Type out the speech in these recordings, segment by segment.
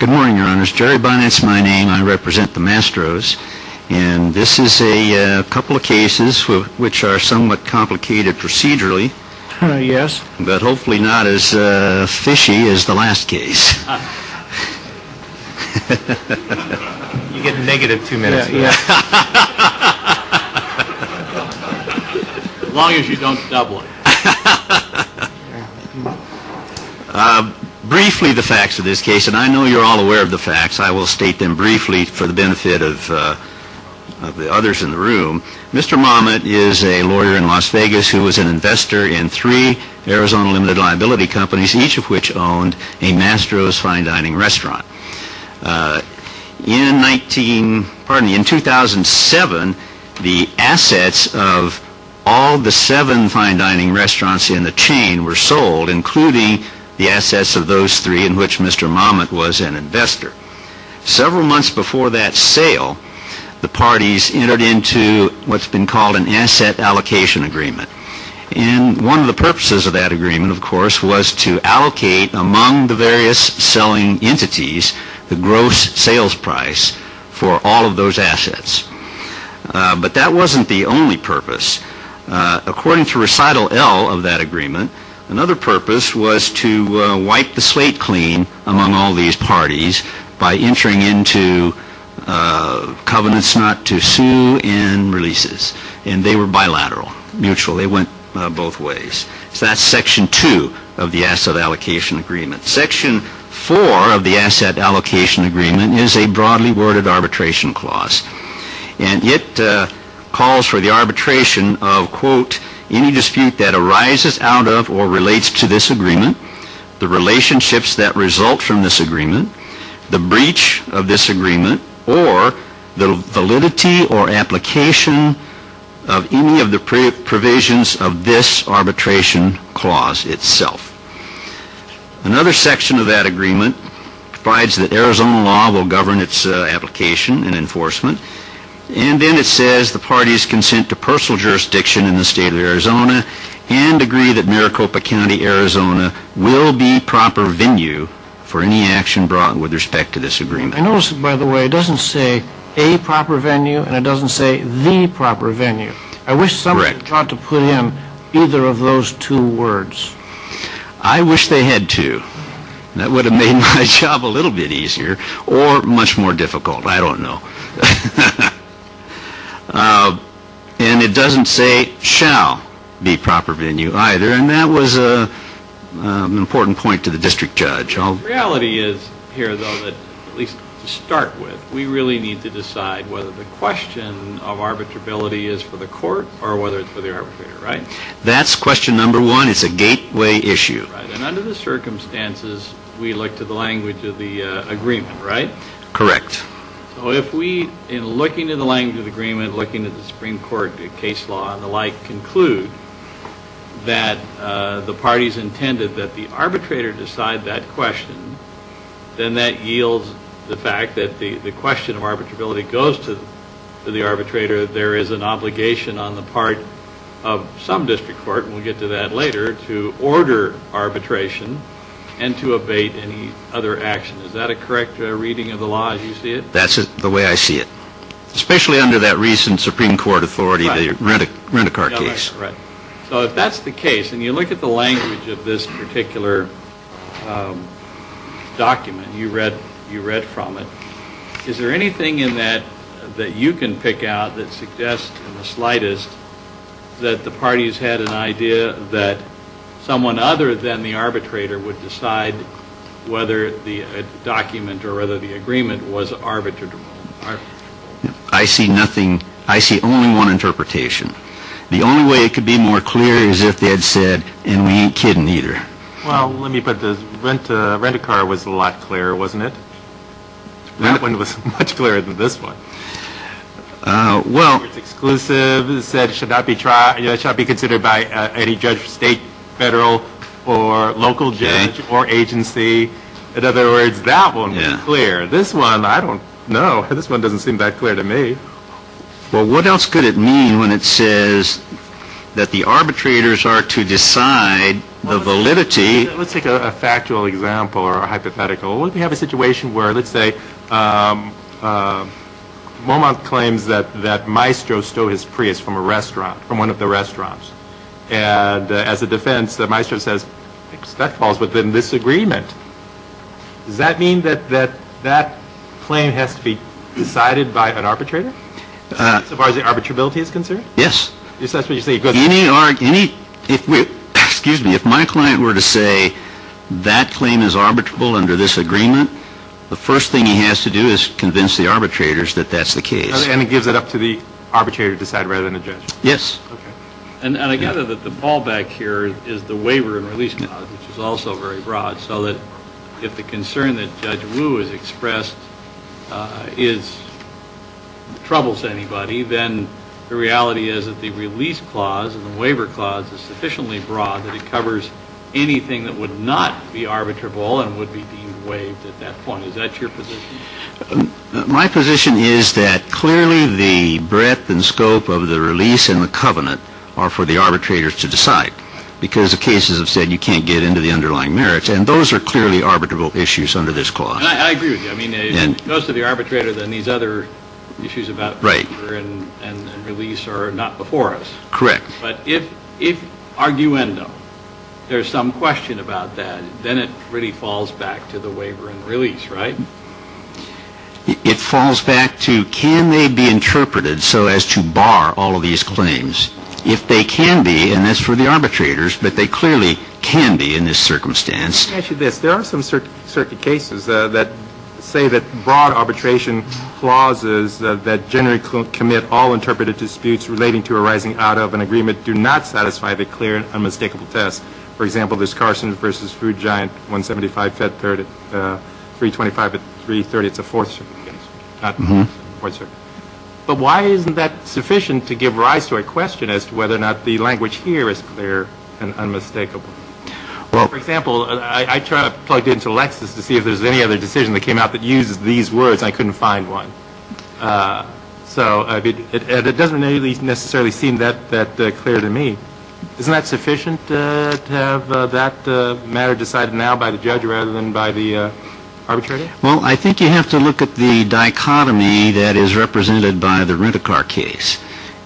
Good morning, your honors. Jerry Bonnet is my name. I represent the Mastros. And this is a couple of cases which are somewhat complicated procedurally. Yes. But hopefully not as fishy as the last case. You get negative two minutes. As long as you don't double it. Briefly, the facts of this case, and I know you're all aware of the facts. I will state them briefly for the benefit of the others in the room. Mr. Momot is a lawyer in Las Vegas who was an investor in three Arizona limited liability companies, each of which owned a Mastros fine dining restaurant. In 2007, the assets of all the seven fine dining restaurants in the chain were sold, including the assets of those three in which Mr. Momot was an investor. Several months before that sale, the parties entered into what's been called an asset allocation agreement. One of the purposes of that agreement, of course, was to allocate among the various selling entities the gross sales price for all of those assets. But that wasn't the only purpose. According to recital L of that agreement, another purpose was to wipe the slate clean among all these parties by entering into covenants not to sue and releases. And they were bilateral, mutual, they went both ways. So that's section two of the asset allocation agreement. Section four of the asset allocation agreement is a broadly worded arbitration clause. And it calls for the arbitration of, quote, any dispute that arises out of or relates to this agreement, the relationships that result from this agreement, the breach of this agreement, or the validity or application of any of the provisions of this arbitration clause itself. Another section of that agreement provides that Arizona law will govern its application and enforcement. And then it says the parties consent to personal jurisdiction in the state of Arizona and agree that Maricopa County, Arizona, will be proper venue for any action brought with respect to this agreement. I notice, by the way, it doesn't say a proper venue and it doesn't say the proper venue. I wish someone had thought to put in either of those two words. I wish they had too. That would have made my job a little bit easier or much more difficult. I don't know. And it doesn't say shall be proper venue either. And that was an important point to the district judge. The reality is here, though, that at least to start with, we really need to decide whether the question of arbitrability is for the court or whether it's for the arbitrator, right? That's question number one. It's a gateway issue. Right. And under the circumstances, we look to the language of the agreement, right? Correct. So if we, in looking to the language of the agreement, looking at the Supreme Court case law and the like, that the parties intended that the arbitrator decide that question, then that yields the fact that the question of arbitrability goes to the arbitrator. There is an obligation on the part of some district court, and we'll get to that later, to order arbitration and to abate any other action. Is that a correct reading of the law as you see it? That's the way I see it, especially under that recent Supreme Court authority, the rent-a-car ticket. Right. So if that's the case, and you look at the language of this particular document you read from it, is there anything in that that you can pick out that suggests in the slightest that the parties had an idea that someone other than the arbitrator would decide whether the document or whether the agreement was arbitrable? I see nothing. I see only one interpretation. The only way it could be more clear is if they had said, and we ain't kidding either. Well, let me put this. Rent-a-car was a lot clearer, wasn't it? That one was much clearer than this one. Well. It's exclusive. It said it should not be considered by any judge, state, federal, or local judge or agency. In other words, that one was clear. This one, I don't know. This one doesn't seem that clear to me. Well, what else could it mean when it says that the arbitrators are to decide the validity? Let's take a factual example or a hypothetical. What if we have a situation where, let's say, Beaumont claims that Maestro stole his Prius from a restaurant, from one of the restaurants. And as a defense, Maestro says, that falls within this agreement. Does that mean that that claim has to be decided by an arbitrator? As far as the arbitrability is concerned? Yes. If that's what you're saying. Excuse me. If my client were to say, that claim is arbitrable under this agreement, the first thing he has to do is convince the arbitrators that that's the case. And it gives it up to the arbitrator to decide rather than the judge. Yes. And I gather that the ball back here is the waiver and release clause, which is also very broad, so that if the concern that Judge Wu has expressed troubles anybody, then the reality is that the release clause and the waiver clause is sufficiently broad that it covers anything that would not be arbitrable and would be deemed waived at that point. Is that your position? My position is that clearly the breadth and scope of the release and the covenant are for the arbitrators to decide, because the cases have said you can't get into the underlying merits. And those are clearly arbitrable issues under this clause. And I agree with you. I mean, most of the arbitrators and these other issues about waiver and release are not before us. Correct. But if arguendum, there's some question about that, then it really falls back to the waiver and release, right? It falls back to can they be interpreted so as to bar all of these claims? If they can be, and that's for the arbitrators, but they clearly can be in this circumstance. Let me ask you this. There are some circuit cases that say that broad arbitration clauses that generally commit all interpreted disputes relating to arising out of an agreement do not satisfy the clear and unmistakable test. For example, there's Carson v. Food Giant, 175, 325, 330. It's a fourth circuit case. But why isn't that sufficient to give rise to a question as to whether or not the language here is clear and unmistakable? Well, for example, I tried to plug it into Lexis to see if there's any other decision that came out that uses these words. I couldn't find one. So it doesn't necessarily seem that clear to me. Isn't that sufficient to have that matter decided now by the judge rather than by the arbitrator? Well, I think you have to look at the dichotomy that is represented by the Rent-A-Car case.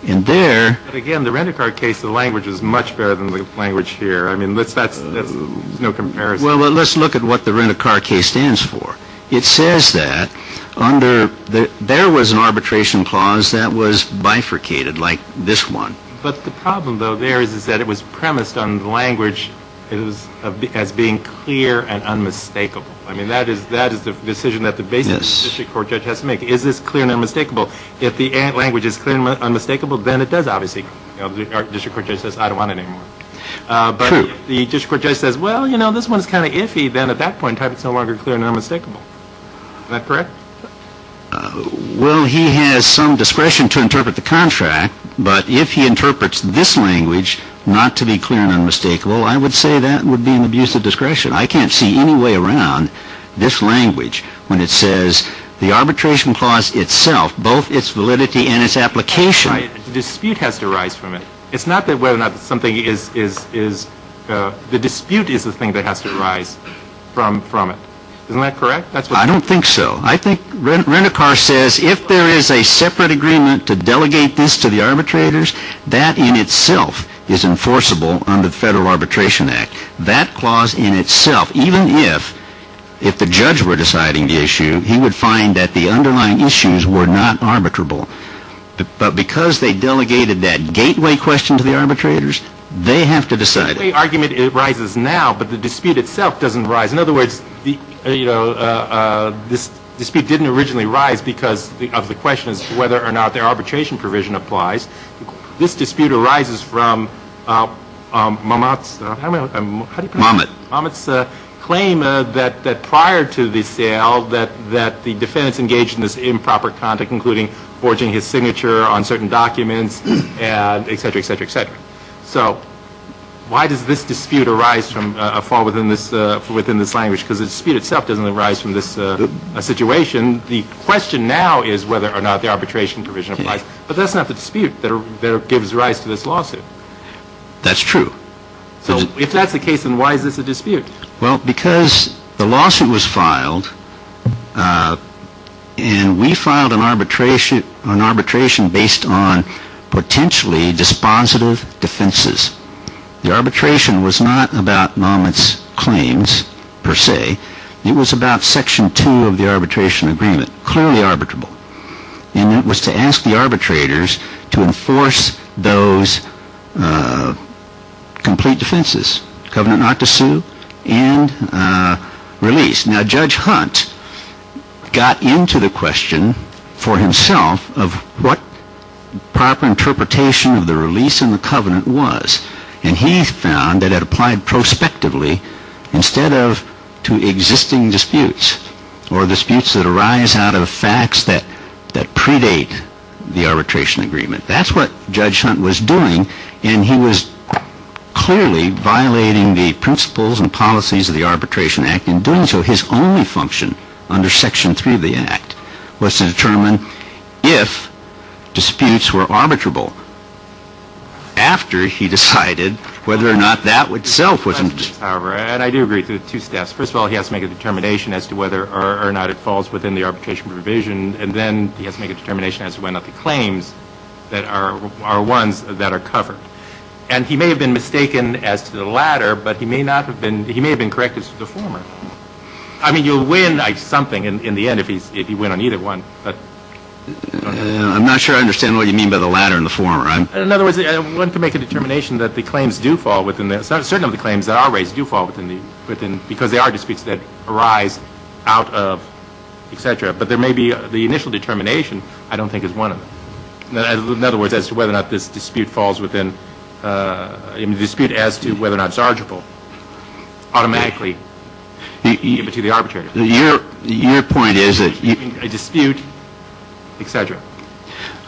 And there... But again, the Rent-A-Car case, the language is much better than the language here. I mean, that's no comparison. Well, let's look at what the Rent-A-Car case stands for. It says that there was an arbitration clause that was bifurcated like this one. But the problem, though, there is that it was premised on language as being clear and unmistakable. I mean, that is the decision that the basic district court judge has to make. Is this clear and unmistakable? If the language is clear and unmistakable, then it does, obviously. The district court judge says, I don't want it anymore. But if the district court judge says, well, you know, this one is kind of iffy, then at that point type is no longer clear and unmistakable. Is that correct? Well, he has some discretion to interpret the contract. But if he interprets this language not to be clear and unmistakable, I would say that would be an abuse of discretion. I can't see any way around this language when it says the arbitration clause itself, both its validity and its application. The dispute has to arise from it. It's not that whether or not something is the dispute is the thing that has to arise from it. Isn't that correct? I don't think so. I think Rent-A-Car says if there is a separate agreement to delegate this to the arbitrators, that in itself is enforceable under the Federal Arbitration Act. That clause in itself, even if the judge were deciding the issue, he would find that the underlying issues were not arbitrable. But because they delegated that gateway question to the arbitrators, they have to decide it. The gateway argument arises now, but the dispute itself doesn't arise. In other words, this dispute didn't originally arise because of the question as to whether or not their arbitration provision applies. This dispute arises from Mamet's claim that prior to the sale that the defendants engaged in this improper conduct, including forging his signature on certain documents, et cetera, et cetera, et cetera. So why does this dispute arise from a fall within this language? Because the dispute itself doesn't arise from this situation. The question now is whether or not the arbitration provision applies. But that's not the dispute that gives rise to this lawsuit. That's true. So if that's the case, then why is this a dispute? Well, because the lawsuit was filed, and we filed an arbitration based on potentially dispositive defenses. The arbitration was not about Mamet's claims, per se. It was about Section 2 of the arbitration agreement, clearly arbitrable. And it was to ask the arbitrators to enforce those complete defenses, covenant not to sue and release. Now Judge Hunt got into the question for himself of what proper interpretation of the release and the covenant was. And he found that it applied prospectively instead of to existing disputes or disputes that arise out of facts that predate the arbitration agreement. That's what Judge Hunt was doing. And he was clearly violating the principles and policies of the Arbitration Act. In doing so, his only function under Section 3 of the Act was to determine if disputes were arbitrable. After he decided whether or not that itself was a dispute. Yes, however, and I do agree to two steps. First of all, he has to make a determination as to whether or not it falls within the arbitration provision. And then he has to make a determination as to whether or not the claims that are ones that are covered. And he may have been mistaken as to the latter, but he may have been correct as to the former. I mean, you'll win something in the end if you win on either one. I'm not sure I understand what you mean by the latter and the former. In other words, I want to make a determination that the claims do fall within this. Certain of the claims that are raised do fall within because they are disputes that arise out of, et cetera. But there may be the initial determination I don't think is one of them. In other words, as to whether or not this dispute falls within, a dispute as to whether or not it's arbitrable automatically to the arbitrator. Your point is that. A dispute, et cetera.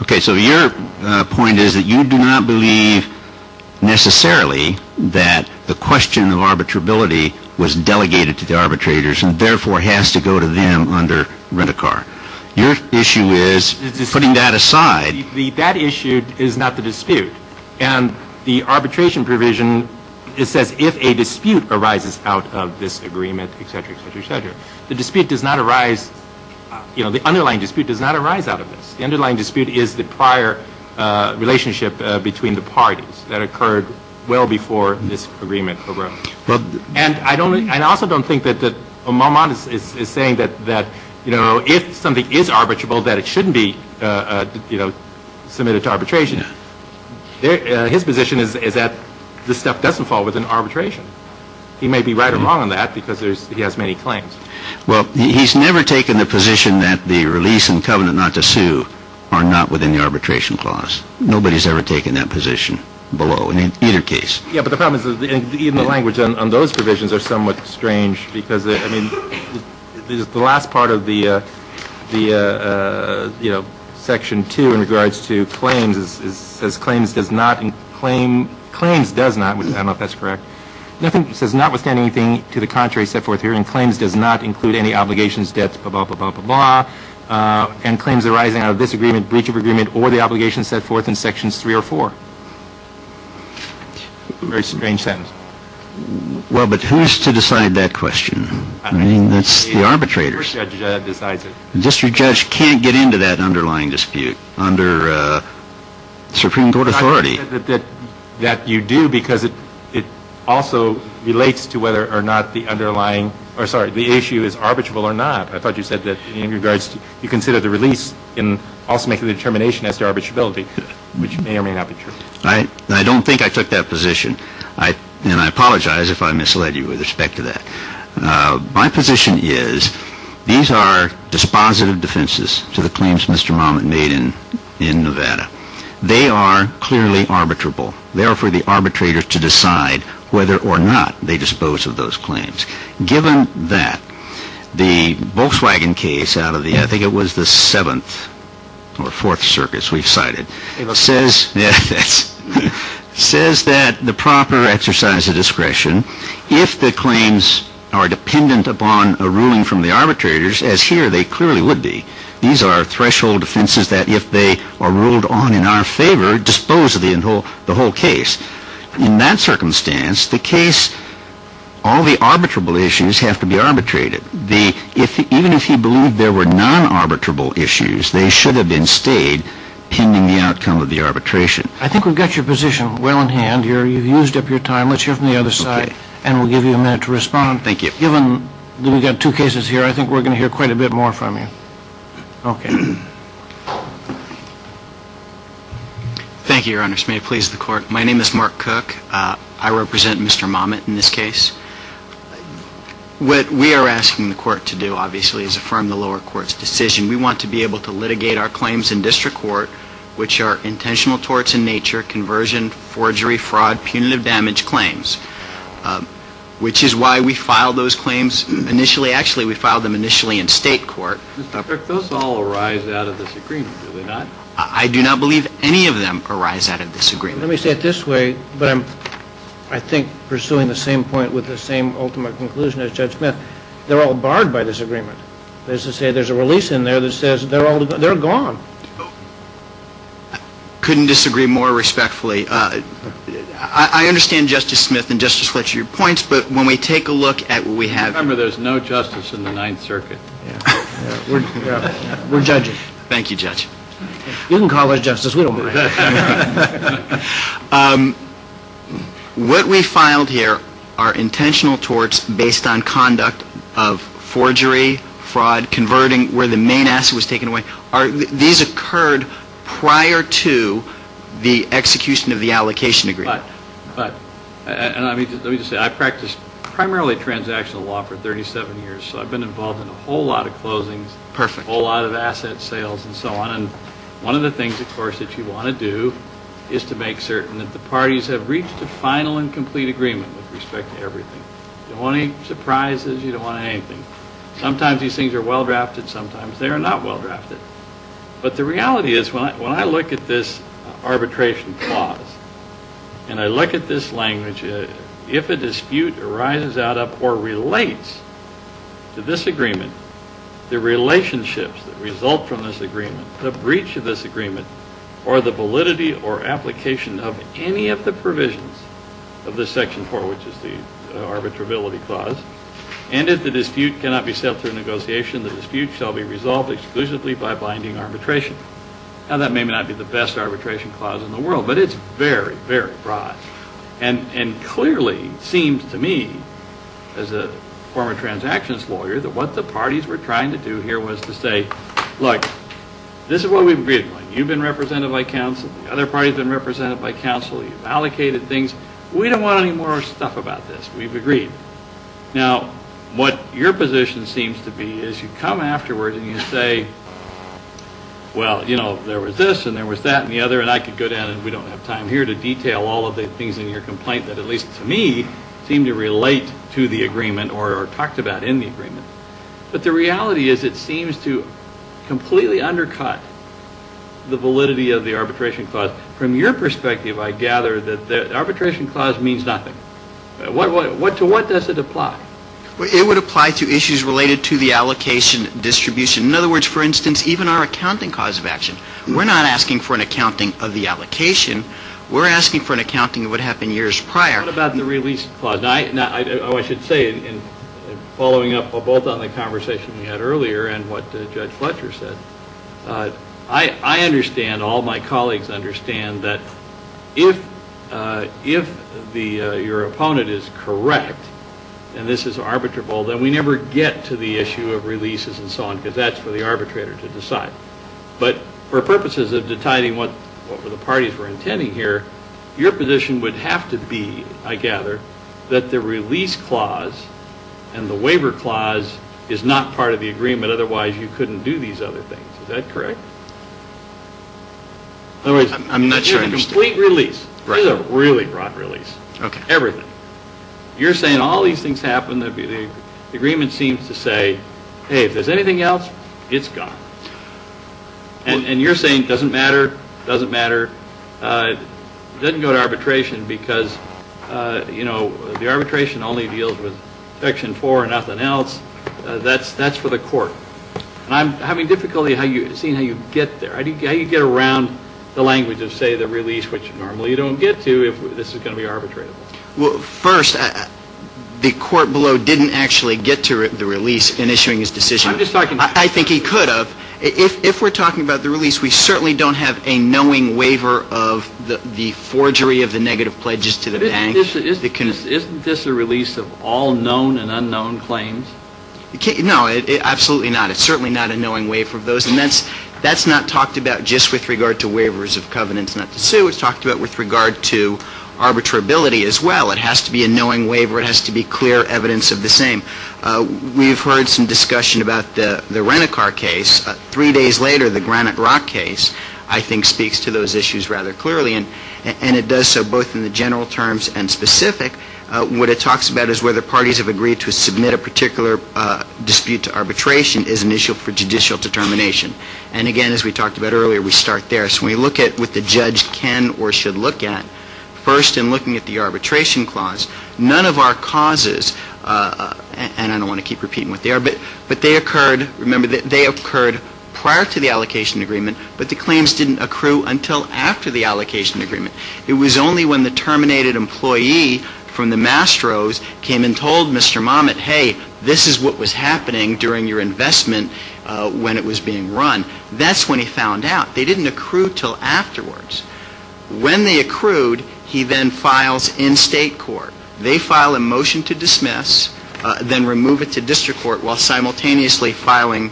Okay. So your point is that you do not believe necessarily that the question of arbitrability was delegated to the arbitrators and therefore has to go to them under Rent-A-Car. Your issue is putting that aside. That issue is not the dispute. And the arbitration provision, it says if a dispute arises out of this agreement, et cetera, et cetera, et cetera. The dispute does not arise, you know, the underlying dispute does not arise out of this. The underlying dispute is the prior relationship between the parties that occurred well before this agreement arose. And I also don't think that Maumont is saying that, you know, if something is arbitrable that it shouldn't be, you know, submitted to arbitration. His position is that this stuff doesn't fall within arbitration. He may be right or wrong on that because he has many claims. Well, he's never taken the position that the release and covenant not to sue are not within the arbitration clause. Nobody's ever taken that position below in either case. Yeah, but the problem is even the language on those provisions are somewhat strange because, I mean, the last part of the, you know, Section 2 in regards to claims says claims does not and claims does not. I don't know if that's correct. Nothing says notwithstanding anything to the contrary set forth here, and claims does not include any obligations, debts, blah, blah, blah, blah, blah, blah, and claims arising out of this agreement, breach of agreement, or the obligation set forth in Sections 3 or 4. Very strange sentence. Well, but who's to decide that question? I mean, that's the arbitrators. The district judge decides it. District judge can't get into that underlying dispute under Supreme Court authority. I thought you said that you do because it also relates to whether or not the underlying or, sorry, the issue is arbitrable or not. I thought you said that in regards to you consider the release in also making the determination as to arbitrability, which may or may not be true. I don't think I took that position, and I apologize if I misled you with respect to that. My position is these are dispositive defenses to the claims Mr. Momin made in Nevada. They are clearly arbitrable. They are for the arbitrators to decide whether or not they dispose of those claims. Given that, the Volkswagen case out of the, I think it was the 7th or 4th circuits we've cited, says that the proper exercise of discretion, if the claims are dependent upon a ruling from the arbitrators, as here they clearly would be, these are threshold defenses that if they are ruled on in our favor, dispose of the whole case. In that circumstance, the case, all the arbitrable issues have to be arbitrated. Even if he believed there were non-arbitrable issues, they should have been stayed pending the outcome of the arbitration. I think we've got your position well in hand here. You've used up your time. Let's hear from the other side, and we'll give you a minute to respond. Thank you. Given that we've got two cases here, I think we're going to hear quite a bit more from you. Okay. Thank you, Your Honors. May it please the Court. My name is Mark Cook. I represent Mr. Momin in this case. What we are asking the Court to do, obviously, is affirm the lower court's decision. We want to be able to litigate our claims in district court, which are intentional torts in nature, conversion, forgery, fraud, punitive damage claims, which is why we filed those claims initially. Actually, we filed them initially in state court. Mr. Cook, those all arise out of this agreement, do they not? I do not believe any of them arise out of this agreement. Let me say it this way, but I'm, I think, pursuing the same point with the same ultimate conclusion as Judge Smith. They're all barred by this agreement. That is to say, there's a release in there that says they're all gone. Couldn't disagree more respectfully. I understand Justice Smith and Justice Fletcher, your points, but when we take a look at what we have here. Remember, there's no justice in the Ninth Circuit. We're judges. Thank you, Judge. You can call us justice, we don't care. What we filed here are intentional torts based on conduct of forgery, fraud, converting, where the main asset was taken away. These occurred prior to the execution of the allocation agreement. But, and let me just say, I practiced primarily transactional law for 37 years, so I've been involved in a whole lot of closings. Perfect. A whole lot of asset sales and so on. And one of the things, of course, that you want to do is to make certain that the parties have reached a final and complete agreement with respect to everything. The only surprise is you don't want anything. Sometimes these things are well-drafted, sometimes they are not well-drafted. But the reality is when I look at this arbitration clause, and I look at this language, if a dispute arises out of or relates to this agreement, the relationships that result from this agreement, the breach of this agreement, or the validity or application of any of the provisions of this Section 4, which is the arbitrability clause, and if the dispute cannot be settled through negotiation, the dispute shall be resolved exclusively by binding arbitration. Now, that may not be the best arbitration clause in the world, but it's very, very broad. And clearly, it seems to me, as a former transactions lawyer, that what the parties were trying to do here was to say, look, this is what we've agreed upon. You've been represented by counsel. The other party has been represented by counsel. You've allocated things. We don't want any more stuff about this. We've agreed. Now, what your position seems to be is you come afterwards and you say, well, you know, there was this and there was that and the other, and I could go down and we don't have time here to detail all of the things in your complaint that, at least to me, seem to relate to the agreement or are talked about in the agreement. But the reality is it seems to completely undercut the validity of the arbitration clause. Now, from your perspective, I gather that the arbitration clause means nothing. To what does it apply? It would apply to issues related to the allocation distribution. In other words, for instance, even our accounting cause of action. We're not asking for an accounting of the allocation. We're asking for an accounting of what happened years prior. What about the release clause? Now, I should say, following up both on the conversation we had earlier and what Judge Fletcher said, I understand, all my colleagues understand, that if your opponent is correct and this is arbitrable, then we never get to the issue of releases and so on because that's for the arbitrator to decide. But for purposes of detiding what the parties were intending here, your position would have to be, I gather, that the release clause and the waiver clause is not part of the agreement. Otherwise, you couldn't do these other things. Is that correct? I'm not sure I understand. It's a complete release. Right. It's a really broad release. Okay. Everything. You're saying all these things happen. The agreement seems to say, hey, if there's anything else, it's gone. And you're saying it doesn't matter. It doesn't matter. It doesn't go to arbitration because, you know, the arbitration only deals with Section 4 and nothing else. That's for the court. And I'm having difficulty seeing how you get there, how you get around the language of, say, the release, which normally you don't get to if this is going to be arbitrable. Well, first, the court below didn't actually get to the release in issuing his decision. I'm just talking to you. I think he could have. If we're talking about the release, we certainly don't have a knowing waiver of the forgery of the negative pledges to the bank. Isn't this a release of all known and unknown claims? No, absolutely not. It's certainly not a knowing waiver of those. And that's not talked about just with regard to waivers of covenants not to sue. It's talked about with regard to arbitrability as well. It has to be a knowing waiver. It has to be clear evidence of the same. We've heard some discussion about the Renicar case. Three days later, the Granite Rock case, I think, speaks to those issues rather clearly. And it does so both in the general terms and specific. What it talks about is whether parties have agreed to submit a particular dispute to arbitration is an issue for judicial determination. And, again, as we talked about earlier, we start there. So when we look at what the judge can or should look at, first in looking at the arbitration clause, none of our causes, and I don't want to keep repeating what they are, but they occurred, remember, they occurred prior to the allocation agreement, but the claims didn't accrue until after the allocation agreement. It was only when the terminated employee from the Mastros came and told Mr. Momet, hey, this is what was happening during your investment when it was being run. That's when he found out. They didn't accrue until afterwards. When they accrued, he then files in state court. They file a motion to dismiss, then remove it to district court, while simultaneously filing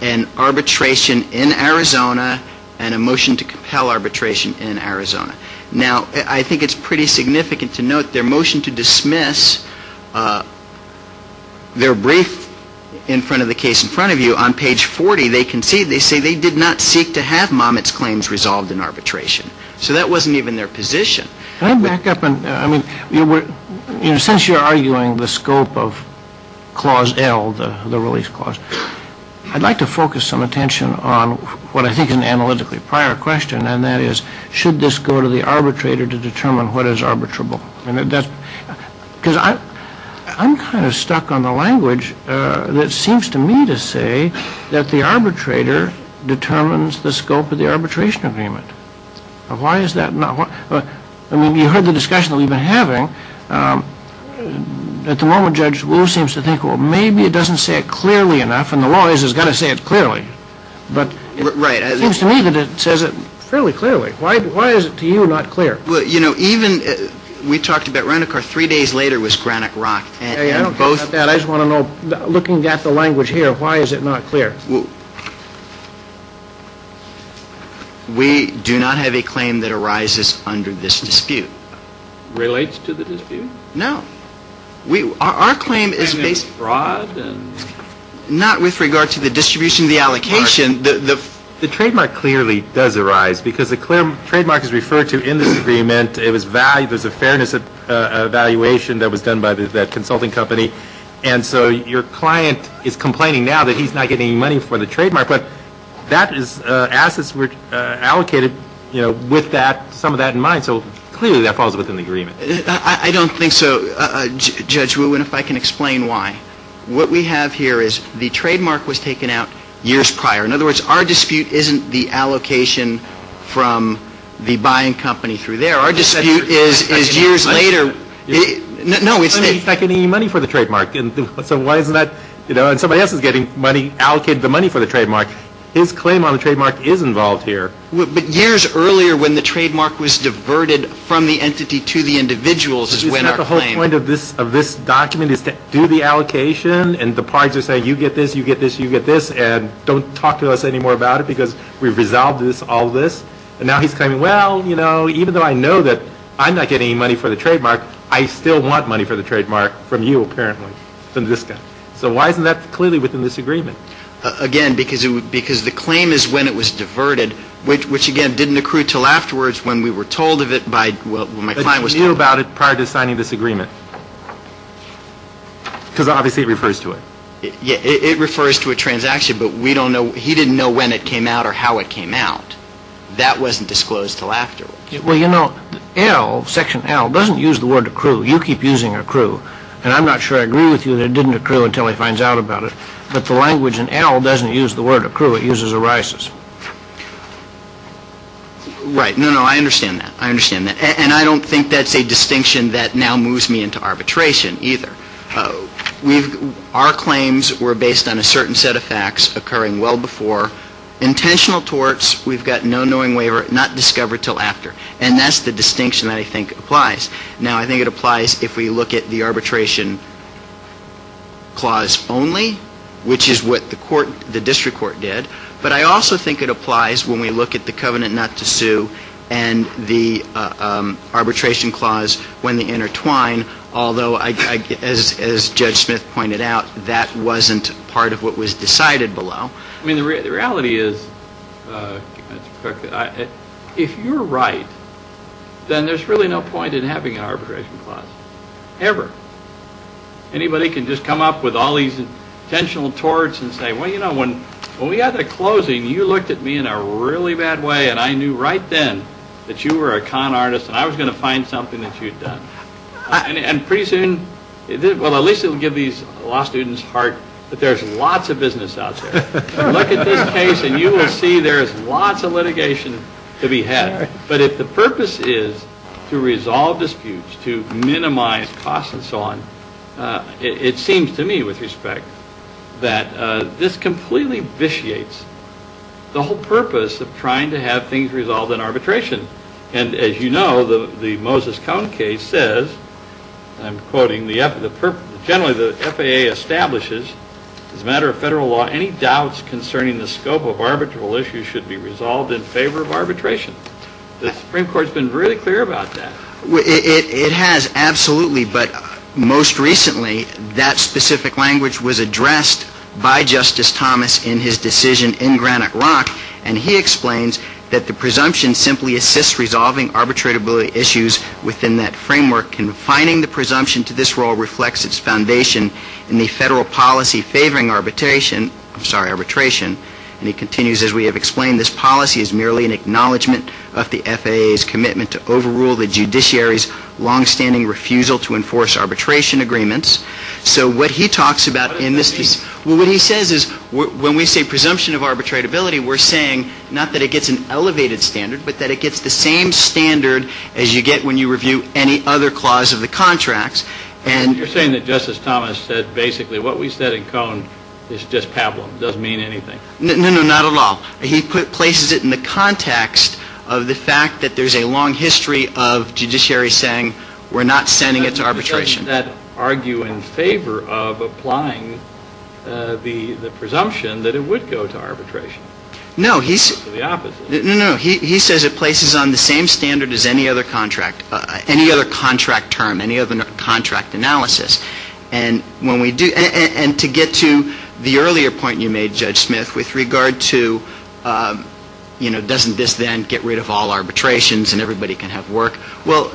an arbitration in Arizona and a motion to compel arbitration in Arizona. Now, I think it's pretty significant to note their motion to dismiss, their brief in front of the case in front of you, on page 40, they say they did not seek to have Momet's claims resolved in arbitration. So that wasn't even their position. Can I back up? I mean, since you're arguing the scope of Clause L, the release clause, I'd like to focus some attention on what I think is an analytically prior question, and that is should this go to the arbitrator to determine what is arbitrable? Because I'm kind of stuck on the language that seems to me to say that the arbitrator determines the scope of the arbitration agreement. Now, why is that not? I mean, you heard the discussion that we've been having. At the moment, Judge Wu seems to think, well, maybe it doesn't say it clearly enough, and the law has got to say it clearly. But it seems to me that it says it fairly clearly. Why is it to you not clear? Well, you know, even we talked about Renicar. Three days later, it was Granite Rock. I just want to know, looking at the language here, why is it not clear? We do not have a claim that arises under this dispute. Relates to the dispute? No. Our claim is based not with regard to the distribution of the allocation. The trademark clearly does arise, because the trademark is referred to in this agreement. There's a fairness evaluation that was done by that consulting company. And so your client is complaining now that he's not getting any money for the trademark. But that is assets allocated with some of that in mind. So clearly that falls within the agreement. I don't think so, Judge Wu, and if I can explain why. What we have here is the trademark was taken out years prior. In other words, our dispute isn't the allocation from the buying company through there. Our dispute is years later. No, it's that he's not getting any money for the trademark. So why is that? You know, and somebody else is getting money, allocated the money for the trademark. His claim on the trademark is involved here. But years earlier when the trademark was diverted from the entity to the individuals is when our claim. The whole point of this document is to do the allocation, and the parties are saying, you get this, you get this, you get this, and don't talk to us anymore about it because we've resolved all this. And now he's claiming, well, you know, even though I know that I'm not getting any money for the trademark, I still want money for the trademark from you, apparently, from this guy. So why isn't that clearly within this agreement? Again, because the claim is when it was diverted, which, again, didn't accrue until afterwards when we were told of it by my client. He knew about it prior to signing this agreement. Because obviously it refers to it. Yeah, it refers to a transaction, but we don't know, he didn't know when it came out or how it came out. That wasn't disclosed until afterwards. Well, you know, L, section L, doesn't use the word accrue. You keep using accrue. And I'm not sure I agree with you that it didn't accrue until he finds out about it. But the language in L doesn't use the word accrue, it uses erisis. Right, no, no, I understand that. And I don't think that's a distinction that now moves me into arbitration either. Our claims were based on a certain set of facts occurring well before. Intentional torts, we've got no knowing waiver, not discovered until after. And that's the distinction that I think applies. Now, I think it applies if we look at the arbitration clause only, which is what the court, the district court did. But I also think it applies when we look at the covenant not to sue and the arbitration clause when they intertwine. Although, as Judge Smith pointed out, that wasn't part of what was decided below. I mean, the reality is, if you're right, then there's really no point in having an arbitration clause, ever. Anybody can just come up with all these intentional torts and say, well, you know, when we got to closing, you looked at me in a really bad way, and I knew right then that you were a con artist and I was going to find something that you'd done. And pretty soon, well, at least it will give these law students heart that there's lots of business out there. Look at this case and you will see there's lots of litigation to be had. But if the purpose is to resolve disputes, to minimize costs and so on, it seems to me with respect that this completely vitiates the whole purpose of trying to have things resolved in arbitration. And as you know, the Moses Cone case says, I'm quoting, generally the FAA establishes, as a matter of federal law, any doubts concerning the scope of arbitral issues should be resolved in favor of arbitration. The Supreme Court's been really clear about that. It has, absolutely. But most recently, that specific language was addressed by Justice Thomas in his decision in Granite Rock, and he explains that the presumption simply assists resolving arbitratability issues within that framework, and refining the presumption to this role reflects its foundation in the federal policy favoring arbitration. I'm sorry, arbitration. And he continues, as we have explained, this policy is merely an acknowledgement of the FAA's commitment to overrule the judiciary's longstanding refusal to enforce arbitration agreements. So what he talks about in this case, well, what he says is when we say presumption of arbitratability, we're saying not that it gets an elevated standard, but that it gets the same standard as you get when you review any other clause of the contracts. And you're saying that Justice Thomas said basically what we said in Cone is just pablum, doesn't mean anything. No, no, not at all. He places it in the context of the fact that there's a long history of judiciary saying we're not sending it to arbitration. Doesn't that argue in favor of applying the presumption that it would go to arbitration? No, he's. Or the opposite. No, no, no. He says it places on the same standard as any other contract, any other contract term, any other contract analysis. And when we do, and to get to the earlier point you made, Judge Smith, with regard to, you know, doesn't this then get rid of all arbitrations and everybody can have work? Well,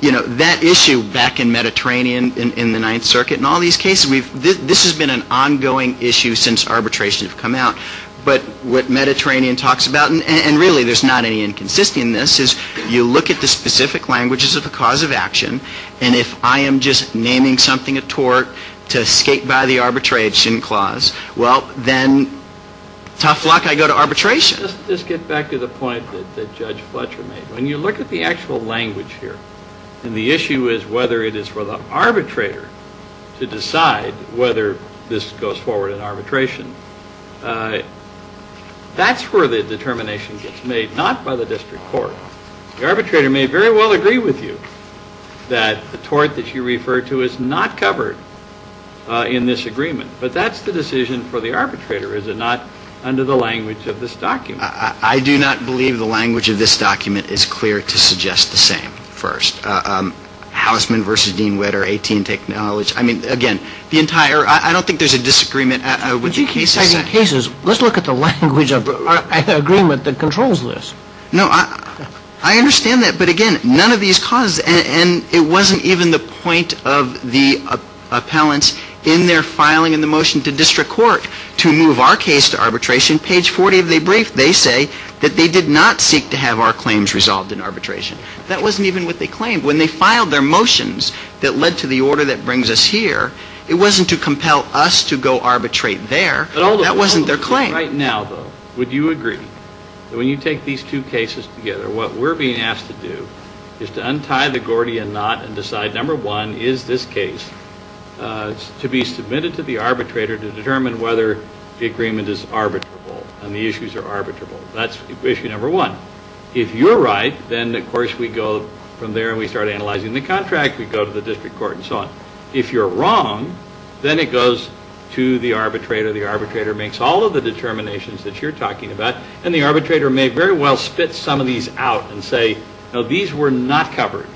you know, that issue back in Mediterranean in the Ninth Circuit and all these cases, this has been an ongoing issue since arbitration has come out. But what Mediterranean talks about, and really there's not any inconsistency in this, is you look at the specific languages of the cause of action, and if I am just naming something a tort to escape by the arbitration clause, well, then tough luck, I go to arbitration. Let's get back to the point that Judge Fletcher made. When you look at the actual language here, and the issue is whether it is for the arbitrator to decide whether this goes forward in arbitration, that's where the determination gets made, not by the district court. The arbitrator may very well agree with you that the tort that you refer to is not covered in this agreement, but that's the decision for the arbitrator, is it not, under the language of this document. I do not believe the language of this document is clear to suggest the same, first. Housman versus Dean Wetter, 18 take knowledge. I mean, again, the entire, I don't think there's a disagreement with the cases. But you can't say the cases, let's look at the language of the agreement that controls this. No, I understand that, but again, none of these causes, and it wasn't even the point of the appellants in their filing in the motion to district court to move our case to arbitration. In page 40 of their brief, they say that they did not seek to have our claims resolved in arbitration. That wasn't even what they claimed. When they filed their motions that led to the order that brings us here, it wasn't to compel us to go arbitrate there. That wasn't their claim. Right now, though, would you agree that when you take these two cases together, what we're being asked to do is to untie the Gordian knot and decide, number one, is this case to be submitted to the arbitrator to determine whether the agreement is arbitrable and the issues are arbitrable. That's issue number one. If you're right, then, of course, we go from there and we start analyzing the contract. We go to the district court and so on. If you're wrong, then it goes to the arbitrator. The arbitrator makes all of the determinations that you're talking about, and the arbitrator may very well spit some of these out and say, no, these were not covered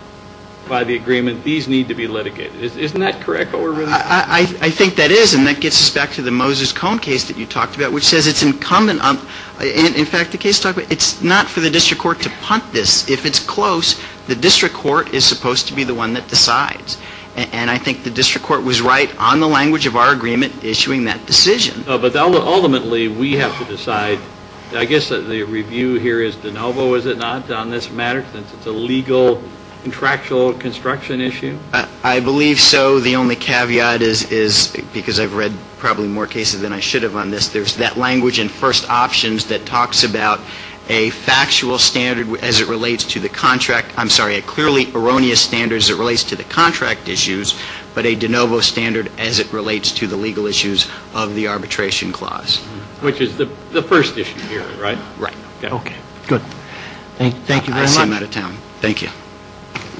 by the agreement. These need to be litigated. Isn't that correct? I think that is, and that gets us back to the Moses Cone case that you talked about, which says it's incumbent on – in fact, the case – it's not for the district court to punt this. If it's close, the district court is supposed to be the one that decides, and I think the district court was right on the language of our agreement issuing that decision. But ultimately, we have to decide – I guess the review here is de novo, is it not, on this matter, since it's a legal contractual construction issue? I believe so. The only caveat is, because I've read probably more cases than I should have on this, there's that language in first options that talks about a factual standard as it relates to the contract – I'm sorry, a clearly erroneous standard as it relates to the contract issues, but a de novo standard as it relates to the legal issues of the arbitration clause. Which is the first issue here, right? Right. Okay, good. Thank you very much. I'll see him out of town. Thank you.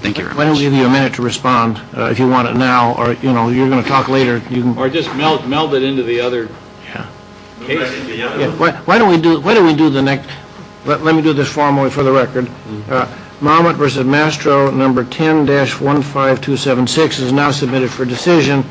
Thank you very much. Why don't we give you a minute to respond, if you want it now, or, you know, you're going to talk later. Or just meld it into the other case. Why don't we do the next – let me do this formally for the record. Marmot v. Mastro, number 10-15276 is now submitted for decision.